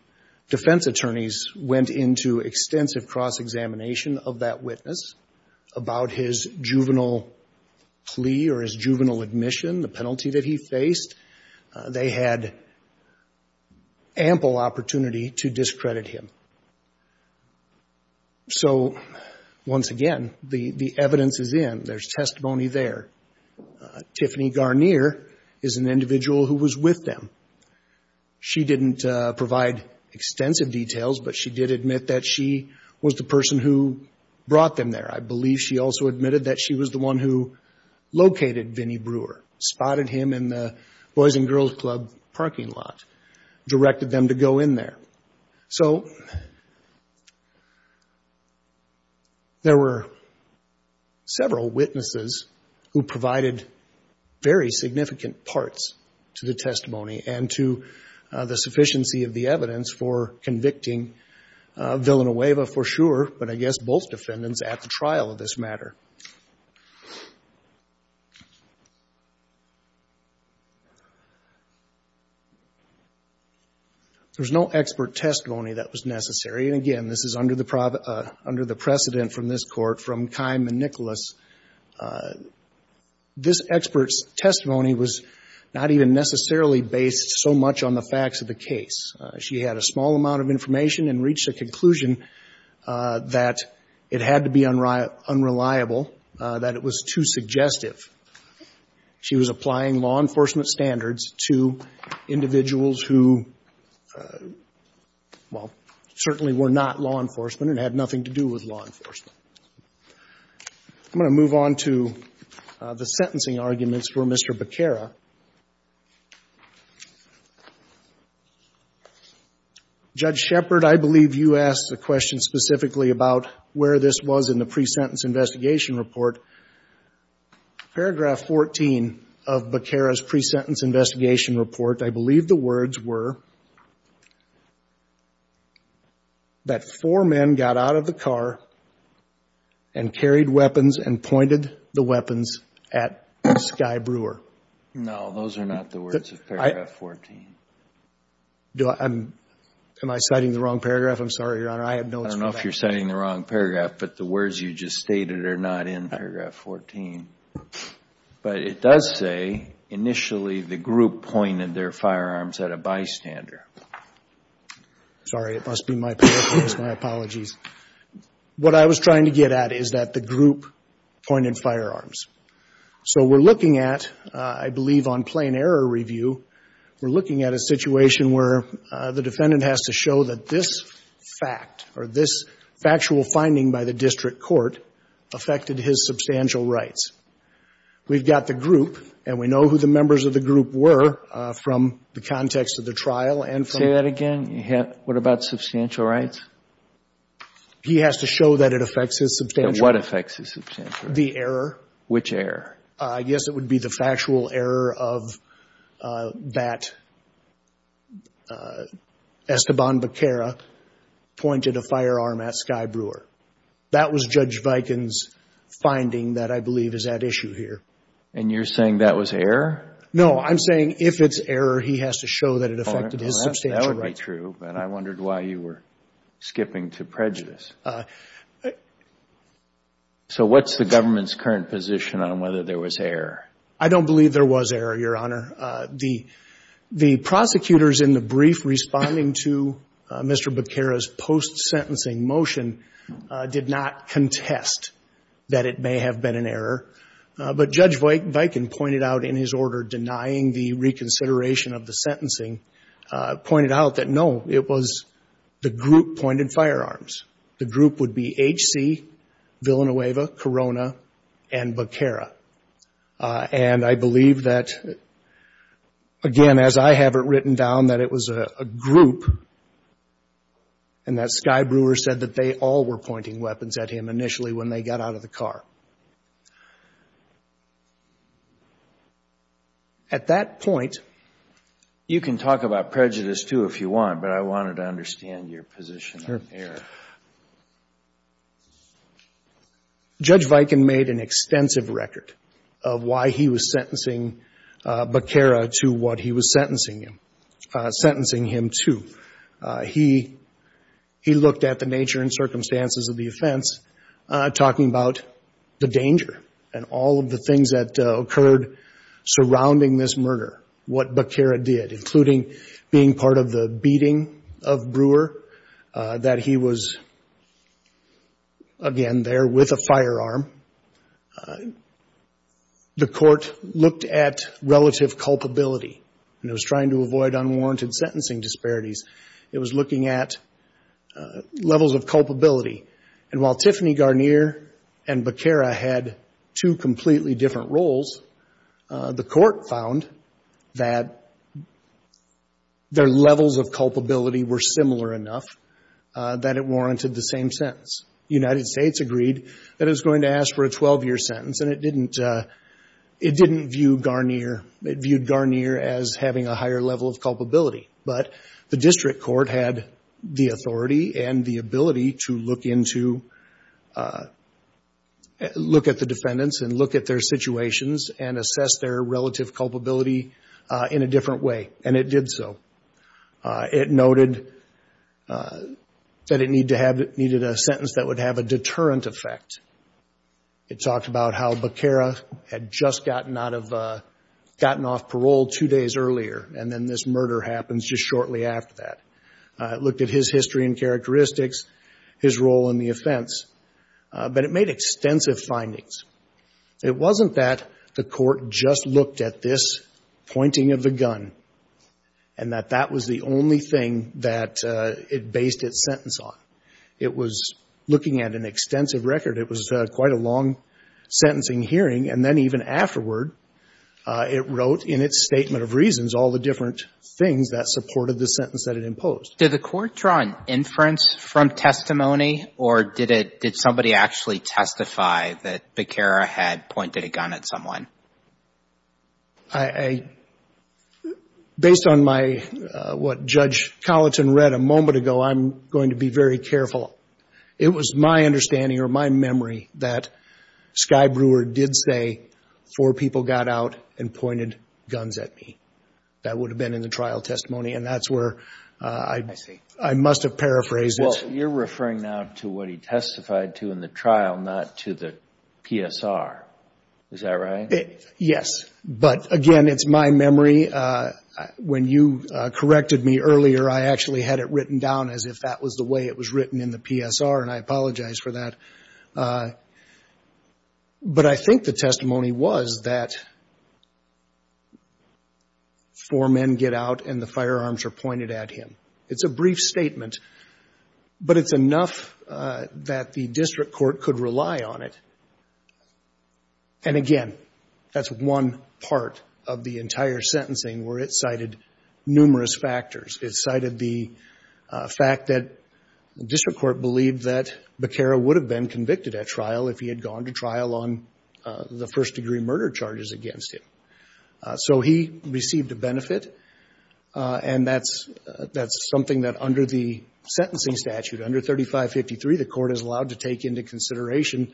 defense attorneys went into extensive cross-examination of that witness about his juvenile plea or his juvenile admission, the penalty that he faced. They had ample opportunity to discredit him. So once again, the evidence is in. There's testimony there. Tiffany Garnier is an individual who was with them. She didn't provide extensive details, but she did admit that she was the person who brought them there. I believe she also admitted that she was the one who located Vinnie Brewer, spotted him in the Boys and Girls Club parking lot, directed them to go in there. So there were several witnesses who provided very significant parts to the testimony and to the sufficiency of the evidence for convicting Villanueva for sure, but I guess both defendants at the trial of this matter. There's no expert testimony that was necessary. And again, this is under the precedent from this Court, from Keim and Nicholas. This expert's testimony was not even necessarily based so much on the facts of the case. She had a small amount of information and reached a conclusion that it had to be unreliable, that it was too suggestive. She was applying law enforcement standards to individuals who, well, certainly were not law enforcement and had nothing to do with law enforcement. I'm going to move on to the sentencing arguments for Mr. Becerra. Judge Shepard, I believe you asked the question specifically about where this was in the pre-sentence investigation report. Paragraph 14 of Becerra's pre-sentence investigation report, I believe the words were that four men got out of the car and carried weapons and pointed the weapons at Sky Brewer. No, those are not the words of paragraph 14. Am I citing the wrong paragraph? I'm sorry, Your Honor. I have notes for that. I don't know if you're citing the wrong paragraph, but the words you just stated are not in paragraph 14. But it does say initially the group pointed their firearms at a bystander. Sorry, it must be my paraphrase. My apologies. What I was trying to get at is that the group pointed firearms. So we're looking at, I believe on plain error review, we're looking at a situation where the defendant has to show that this fact or this factual finding by the district court affected his substantial rights. We've got the group, and we know who the members of the group were from the context of the trial. Say that again? What about substantial rights? He has to show that it affects his substantial rights. What affects his substantial rights? The error. Which error? Yes, it would be the factual error of that Esteban Becerra pointed a firearm at Sky Brewer. That was Judge Viken's finding that I believe is at issue here. And you're saying that was error? No, I'm saying if it's error, he has to show that it affected his substantial rights. That would be true, but I wondered why you were skipping to prejudice. So what's the government's current position on whether there was error? I don't believe there was error, Your Honor. The prosecutors in the brief responding to Mr. Becerra's post-sentencing motion did not contest that it may have been an error. But Judge Viken pointed out in his order denying the reconsideration of the sentencing, pointed out that, no, it was the group pointed firearms. The group would be HC, Villanueva, Corona, and Becerra. And I believe that, again, as I have it written down, that it was a group, and that Sky Brewer said that they all were pointing weapons at him initially when they got out of the car. At that point you can talk about prejudice, too, if you want, but I wanted to understand your position on error. Judge Viken made an extensive record of why he was sentencing Becerra to what he was sentencing him to. He looked at the nature and circumstances of the offense, talking about the danger and all of the things that occurred surrounding this murder, what Becerra did, including being part of the beating of Brewer, that he was, again, there with a firearm. The court looked at relative culpability, and it was trying to avoid unwarranted sentencing disparities. It was looking at levels of culpability. And while Tiffany Garnier and Becerra had two completely different roles, the court found that their levels of culpability were similar enough that it warranted the same sentence. The United States agreed that it was going to ask for a 12-year sentence, and it didn't view Garnier as having a higher level of culpability. But the district court had the authority and the ability to look into, look at the defendants and look at their situations and assess their relative culpability in a different way, and it did so. It noted that it needed a sentence that would have a deterrent effect. It talked about how Becerra had just gotten off parole two days earlier, and then this murder happens just shortly after that. It looked at his history and characteristics, his role in the offense. But it made extensive findings. It wasn't that the court just looked at this pointing of the gun and that that was the only thing that it based its sentence on. It was looking at an extensive record. It was quite a long sentencing hearing, and then even afterward, it wrote in its statement of reasons all the different things that supported the sentence that it imposed. Did the court draw an inference from testimony, or did somebody actually testify that Becerra had pointed a gun at someone? Based on what Judge Colleton read a moment ago, I'm going to be very careful. It was my understanding or my memory that Sky Brewer did say, four people got out and pointed guns at me. That would have been in the trial testimony, and that's where I must have paraphrased it. Well, you're referring now to what he testified to in the trial, not to the PSR. Is that right? Yes. But, again, it's my memory. When you corrected me earlier, I actually had it written down as if that was the way it was written in the PSR, and I apologize for that. But I think the testimony was that four men get out and the firearms are pointed at him. It's a brief statement, but it's enough that the district court could rely on it. And, again, that's one part of the entire sentencing where it cited numerous factors. It cited the fact that the district court believed that Bacara would have been convicted at trial if he had gone to trial on the first-degree murder charges against him. So he received a benefit, and that's something that under the sentencing statute, under 3553, the court is allowed to take into consideration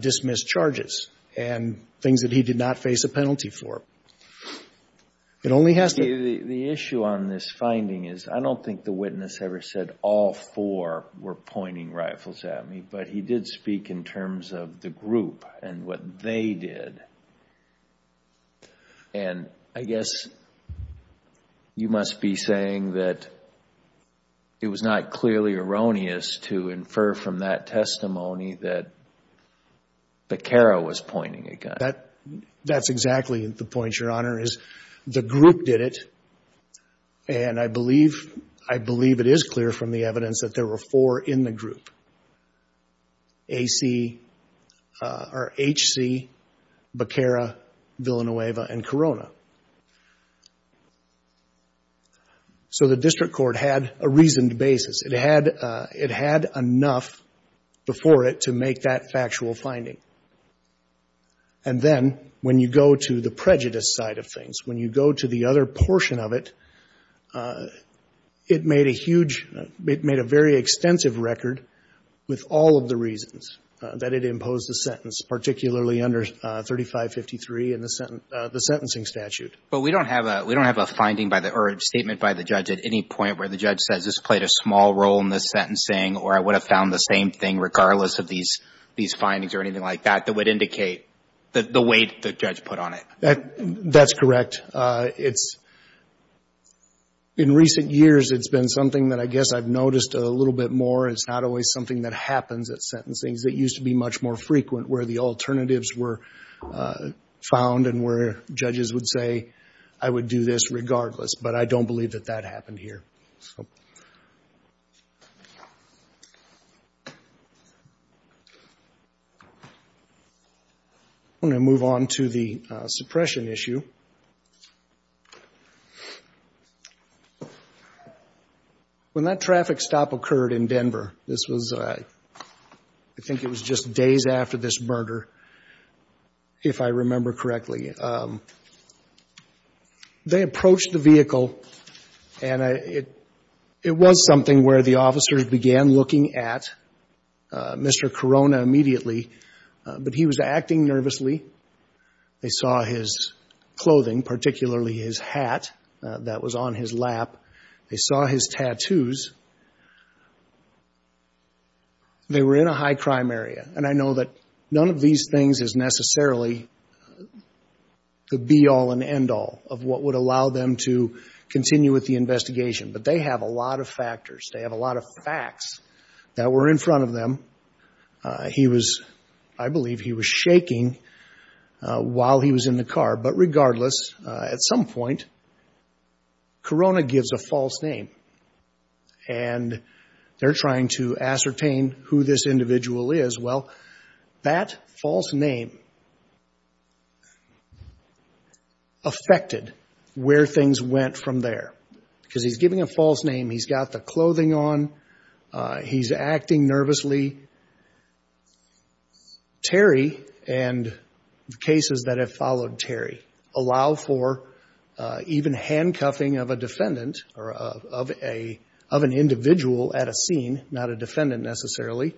dismissed charges and things that he did not face a penalty for. It only has to be the issue on this finding. I don't think the witness ever said all four were pointing rifles at me, but he did speak in terms of the group and what they did. And I guess you must be saying that it was not clearly erroneous to infer from that testimony that Bacara was pointing a gun. That's exactly the point, Your Honor. The point, Your Honor, is the group did it, and I believe it is clear from the evidence that there were four in the group, H.C., Bacara, Villanueva, and Corona. So the district court had a reasoned basis. It had enough before it to make that factual finding. And then when you go to the prejudice side of things, when you go to the other portion of it, it made a huge — it made a very extensive record with all of the reasons that it imposed the sentence, particularly under 3553 in the sentencing statute. But we don't have a — we don't have a finding by the — or a statement by the judge at any point where the judge says this played a small role in the sentencing or I would have found the same thing regardless of these findings or anything like that that would indicate the weight the judge put on it. That's correct. It's — in recent years, it's been something that I guess I've noticed a little bit more. It's not always something that happens at sentencing. It used to be much more frequent where the alternatives were found and where judges would say, I would do this regardless. But I don't believe that that happened here. I'm going to move on to the suppression issue. When that traffic stop occurred in Denver, this was — I think it was just days after this murder, if I remember correctly, they approached the vehicle, and it was something where the officers began looking at Mr. Corona immediately, but he was acting nervously. They saw his clothing, particularly his hat that was on his lap. They saw his tattoos. They were in a high-crime area, and I know that none of these things is necessarily the be-all and end-all of what would allow them to continue with the investigation. But they have a lot of factors. They have a lot of facts that were in front of them. He was — I believe he was shaking while he was in the car. But regardless, at some point, Corona gives a false name. And they're trying to ascertain who this individual is. Well, that false name affected where things went from there. Because he's giving a false name. He's got the clothing on. He's acting nervously. Terry and the cases that have followed Terry allow for even handcuffing of a defendant or of an individual at a scene, not a defendant necessarily,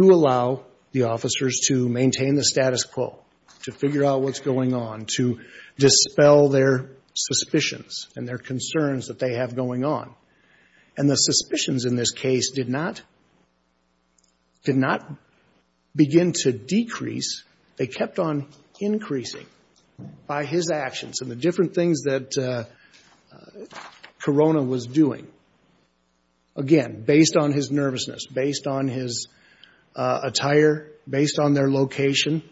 to allow the officers to maintain the status quo, to figure out what's going on, to dispel their suspicions and their concerns that they have going on. And the suspicions in this case did not begin to decrease. They kept on increasing by his actions. And the different things that Corona was doing, again, based on his nervousness, based on his attire, based on their location.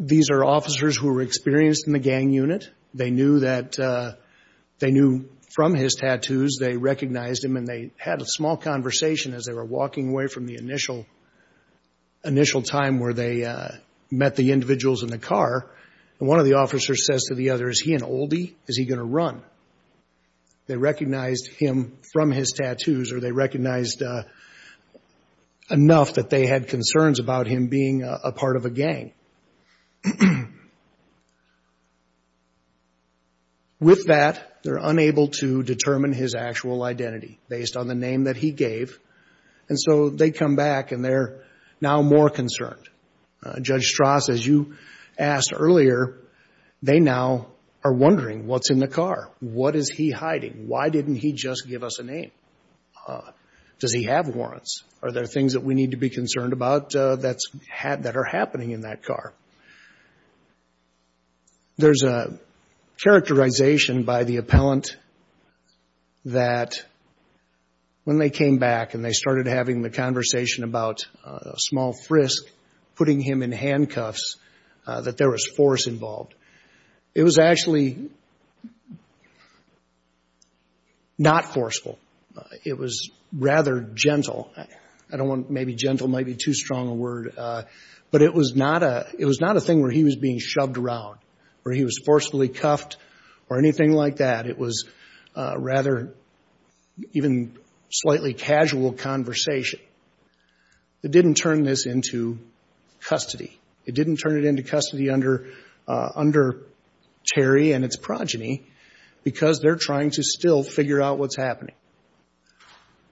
These are officers who were experienced in the gang unit. They knew that — they knew from his tattoos, they recognized him, and they had a small conversation as they were walking away from the initial time where they met the individuals in the car. And one of the officers says to the other, is he an oldie? Is he going to run? They recognized him from his tattoos, or they recognized enough that they had concerns about him being a part of a gang. With that, they're unable to determine his actual identity based on the name that he gave. And so they come back, and they're now more concerned. Judge Strass, as you asked earlier, they now are wondering what's in the car. What is he hiding? Why didn't he just give us a name? Does he have warrants? Are there things that we need to be concerned about that are happening in that car? There's a characterization by the appellant that when they came back and they started having the conversation about a small frisk putting him in handcuffs, that there was force involved. It was actually not forceful. It was rather gentle. I don't want — maybe gentle might be too strong a word. But it was not a thing where he was being shoved around, where he was forcefully cuffed or anything like that. It was rather even slightly casual conversation. It didn't turn this into custody. It didn't turn it into custody under Terry and its progeny because they're trying to still figure out what's happening.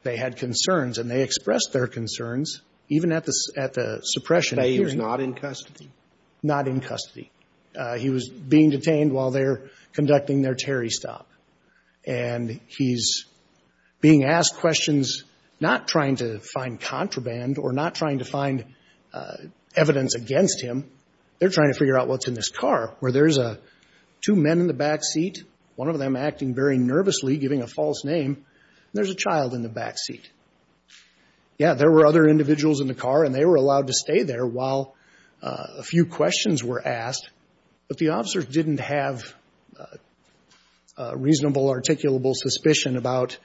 They had concerns, and they expressed their concerns even at the suppression hearing. So he was not in custody? Not in custody. He was being detained while they're conducting their Terry stop. And he's being asked questions, not trying to find contraband or not trying to find evidence against him. They're trying to figure out what's in this car, where there's two men in the back seat, one of them acting very nervously, giving a false name, and there's a child in the back seat. Yeah, there were other individuals in the car, and they were allowed to stay there while a few questions were asked. But the officers didn't have reasonable, articulable suspicion about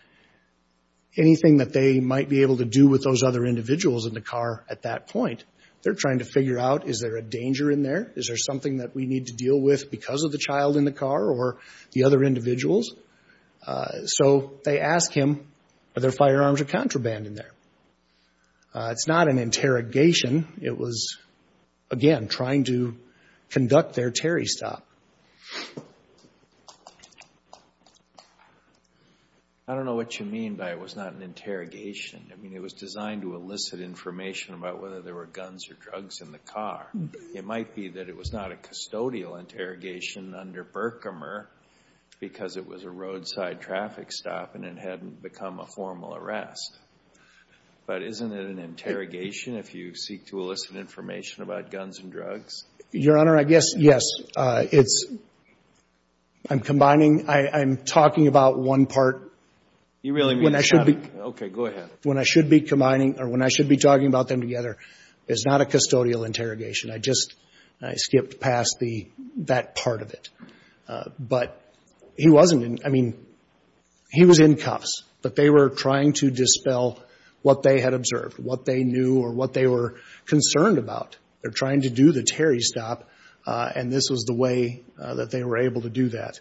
anything that they might be able to do with those other individuals in the car at that point. They're trying to figure out, is there a danger in there? Is there something that we need to deal with because of the child in the car or the other individuals? So they ask him, are there firearms or contraband in there? It's not an interrogation. It was, again, trying to conduct their Terry stop. I don't know what you mean by it was not an interrogation. I mean, it was designed to elicit information about whether there were guns or drugs in the car. It might be that it was not a custodial interrogation under Berkmer because it was a roadside traffic stop and it hadn't become a formal arrest. But isn't it an interrogation if you seek to elicit information about guns and drugs? Your Honor, I guess, yes. It's – I'm combining – I'm talking about one part. You really mean – When I should be – Okay, go ahead. When I should be combining – or when I should be talking about them together, it's not a custodial interrogation. I just – I skipped past the – that part of it. But he wasn't in – I mean, he was in cuffs, but they were trying to dispel what they had observed, what they knew or what they were concerned about. They're trying to do the Terry stop, and this was the way that they were able to do that.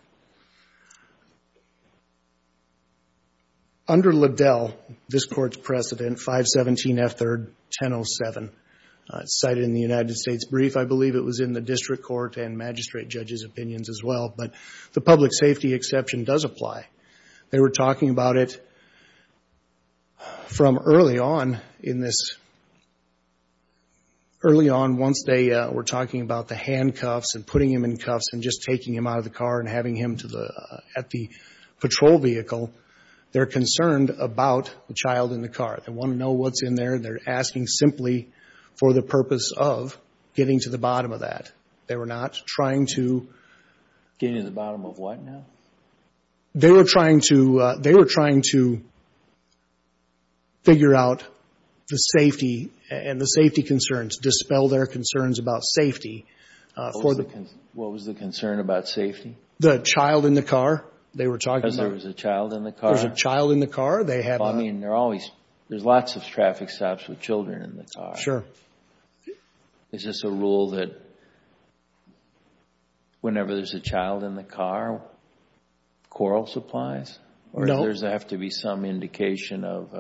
Under Liddell, this Court's precedent, 517F3-1007, cited in the United States Brief, I believe it was in the district court and magistrate judges' opinions as well, but the public safety exception does apply. They were talking about it from early on in this – early on once they were talking about the handcuffs and putting him in cuffs and just taking him out of the car and having him to the – at the patrol vehicle, they're concerned about the child in the car. They want to know what's in there, and they're asking simply for the purpose of getting to the bottom of that. They were not trying to – Getting to the bottom of what now? They were trying to – they were trying to figure out the safety and the safety concerns, dispel their concerns about safety for the – What was the concern about safety? The child in the car they were talking about. Because there was a child in the car? There was a child in the car. They had a – I mean, they're always – there's lots of traffic stops with children in the car. Sure. Is this a rule that whenever there's a child in the car, coral supplies? No. Or does there have to be some indication of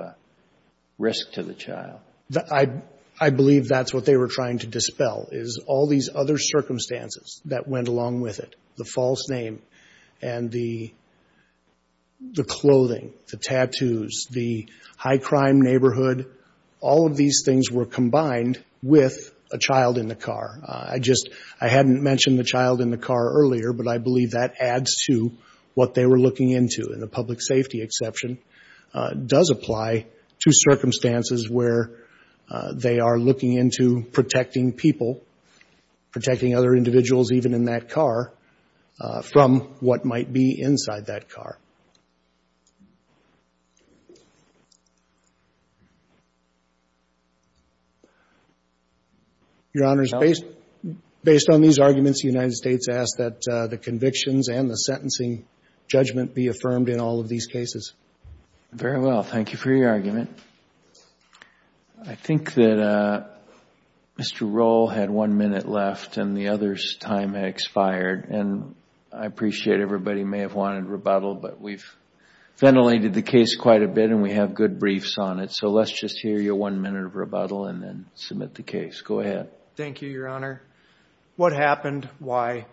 risk to the child? I believe that's what they were trying to dispel, is all these other circumstances that went along with it, the false name and the clothing, the tattoos, the high-crime neighborhood. All of these things were combined with a child in the car. I just – I hadn't mentioned the child in the car earlier, but I believe that adds to what they were looking into. And the public safety exception does apply to circumstances where they are looking into protecting people, protecting other individuals even in that car, from what might be inside that car. Your Honors, based on these arguments, the United States asks that the convictions and the sentencing judgment be affirmed in all of these cases. Very well. Thank you for your argument. I think that Mr. Rohl had one minute left and the other's time expired, and I appreciate everybody may have wanted rebuttal, but we've ventilated the case quite a bit and we have good briefs on it, so let's just hear your one minute of rebuttal and then submit the case. Go ahead. Thank you, Your Honor. What happened? Why?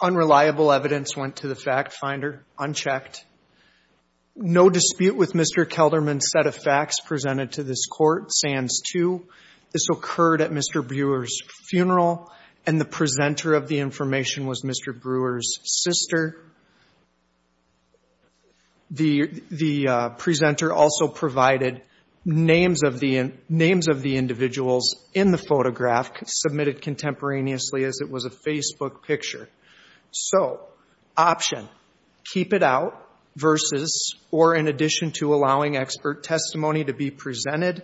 Unreliable evidence went to the fact finder, unchecked. No dispute with Mr. Kelderman's set of facts presented to this court, Sands 2. This occurred at Mr. Brewer's funeral, and the presenter of the information was Mr. Brewer's sister. The presenter also provided names of the individuals in the photograph, submitted contemporaneously as it was a Facebook picture. So, option, keep it out versus or in addition to allowing expert testimony to be presented.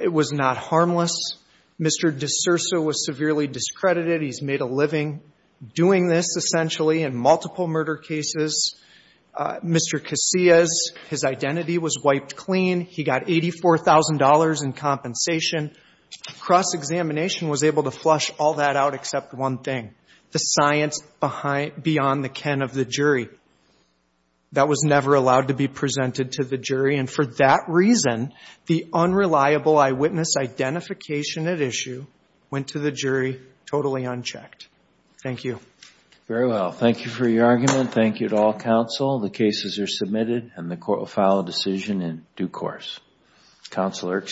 It was not harmless. Mr. D'Souza was severely discredited. He's made a living doing this, essentially, in multiple murder cases. Mr. Casillas, his identity was wiped clean. He got $84,000 in compensation. Cross-examination was able to flush all that out except one thing, the science beyond the ken of the jury. That was never allowed to be presented to the jury, and for that reason, the unreliable eyewitness identification at issue went to the jury totally unchecked. Thank you. Very well. Thank you for your argument. Thank you to all counsel. The cases are submitted, and the court will file a decision in due course. Counsel Erkson.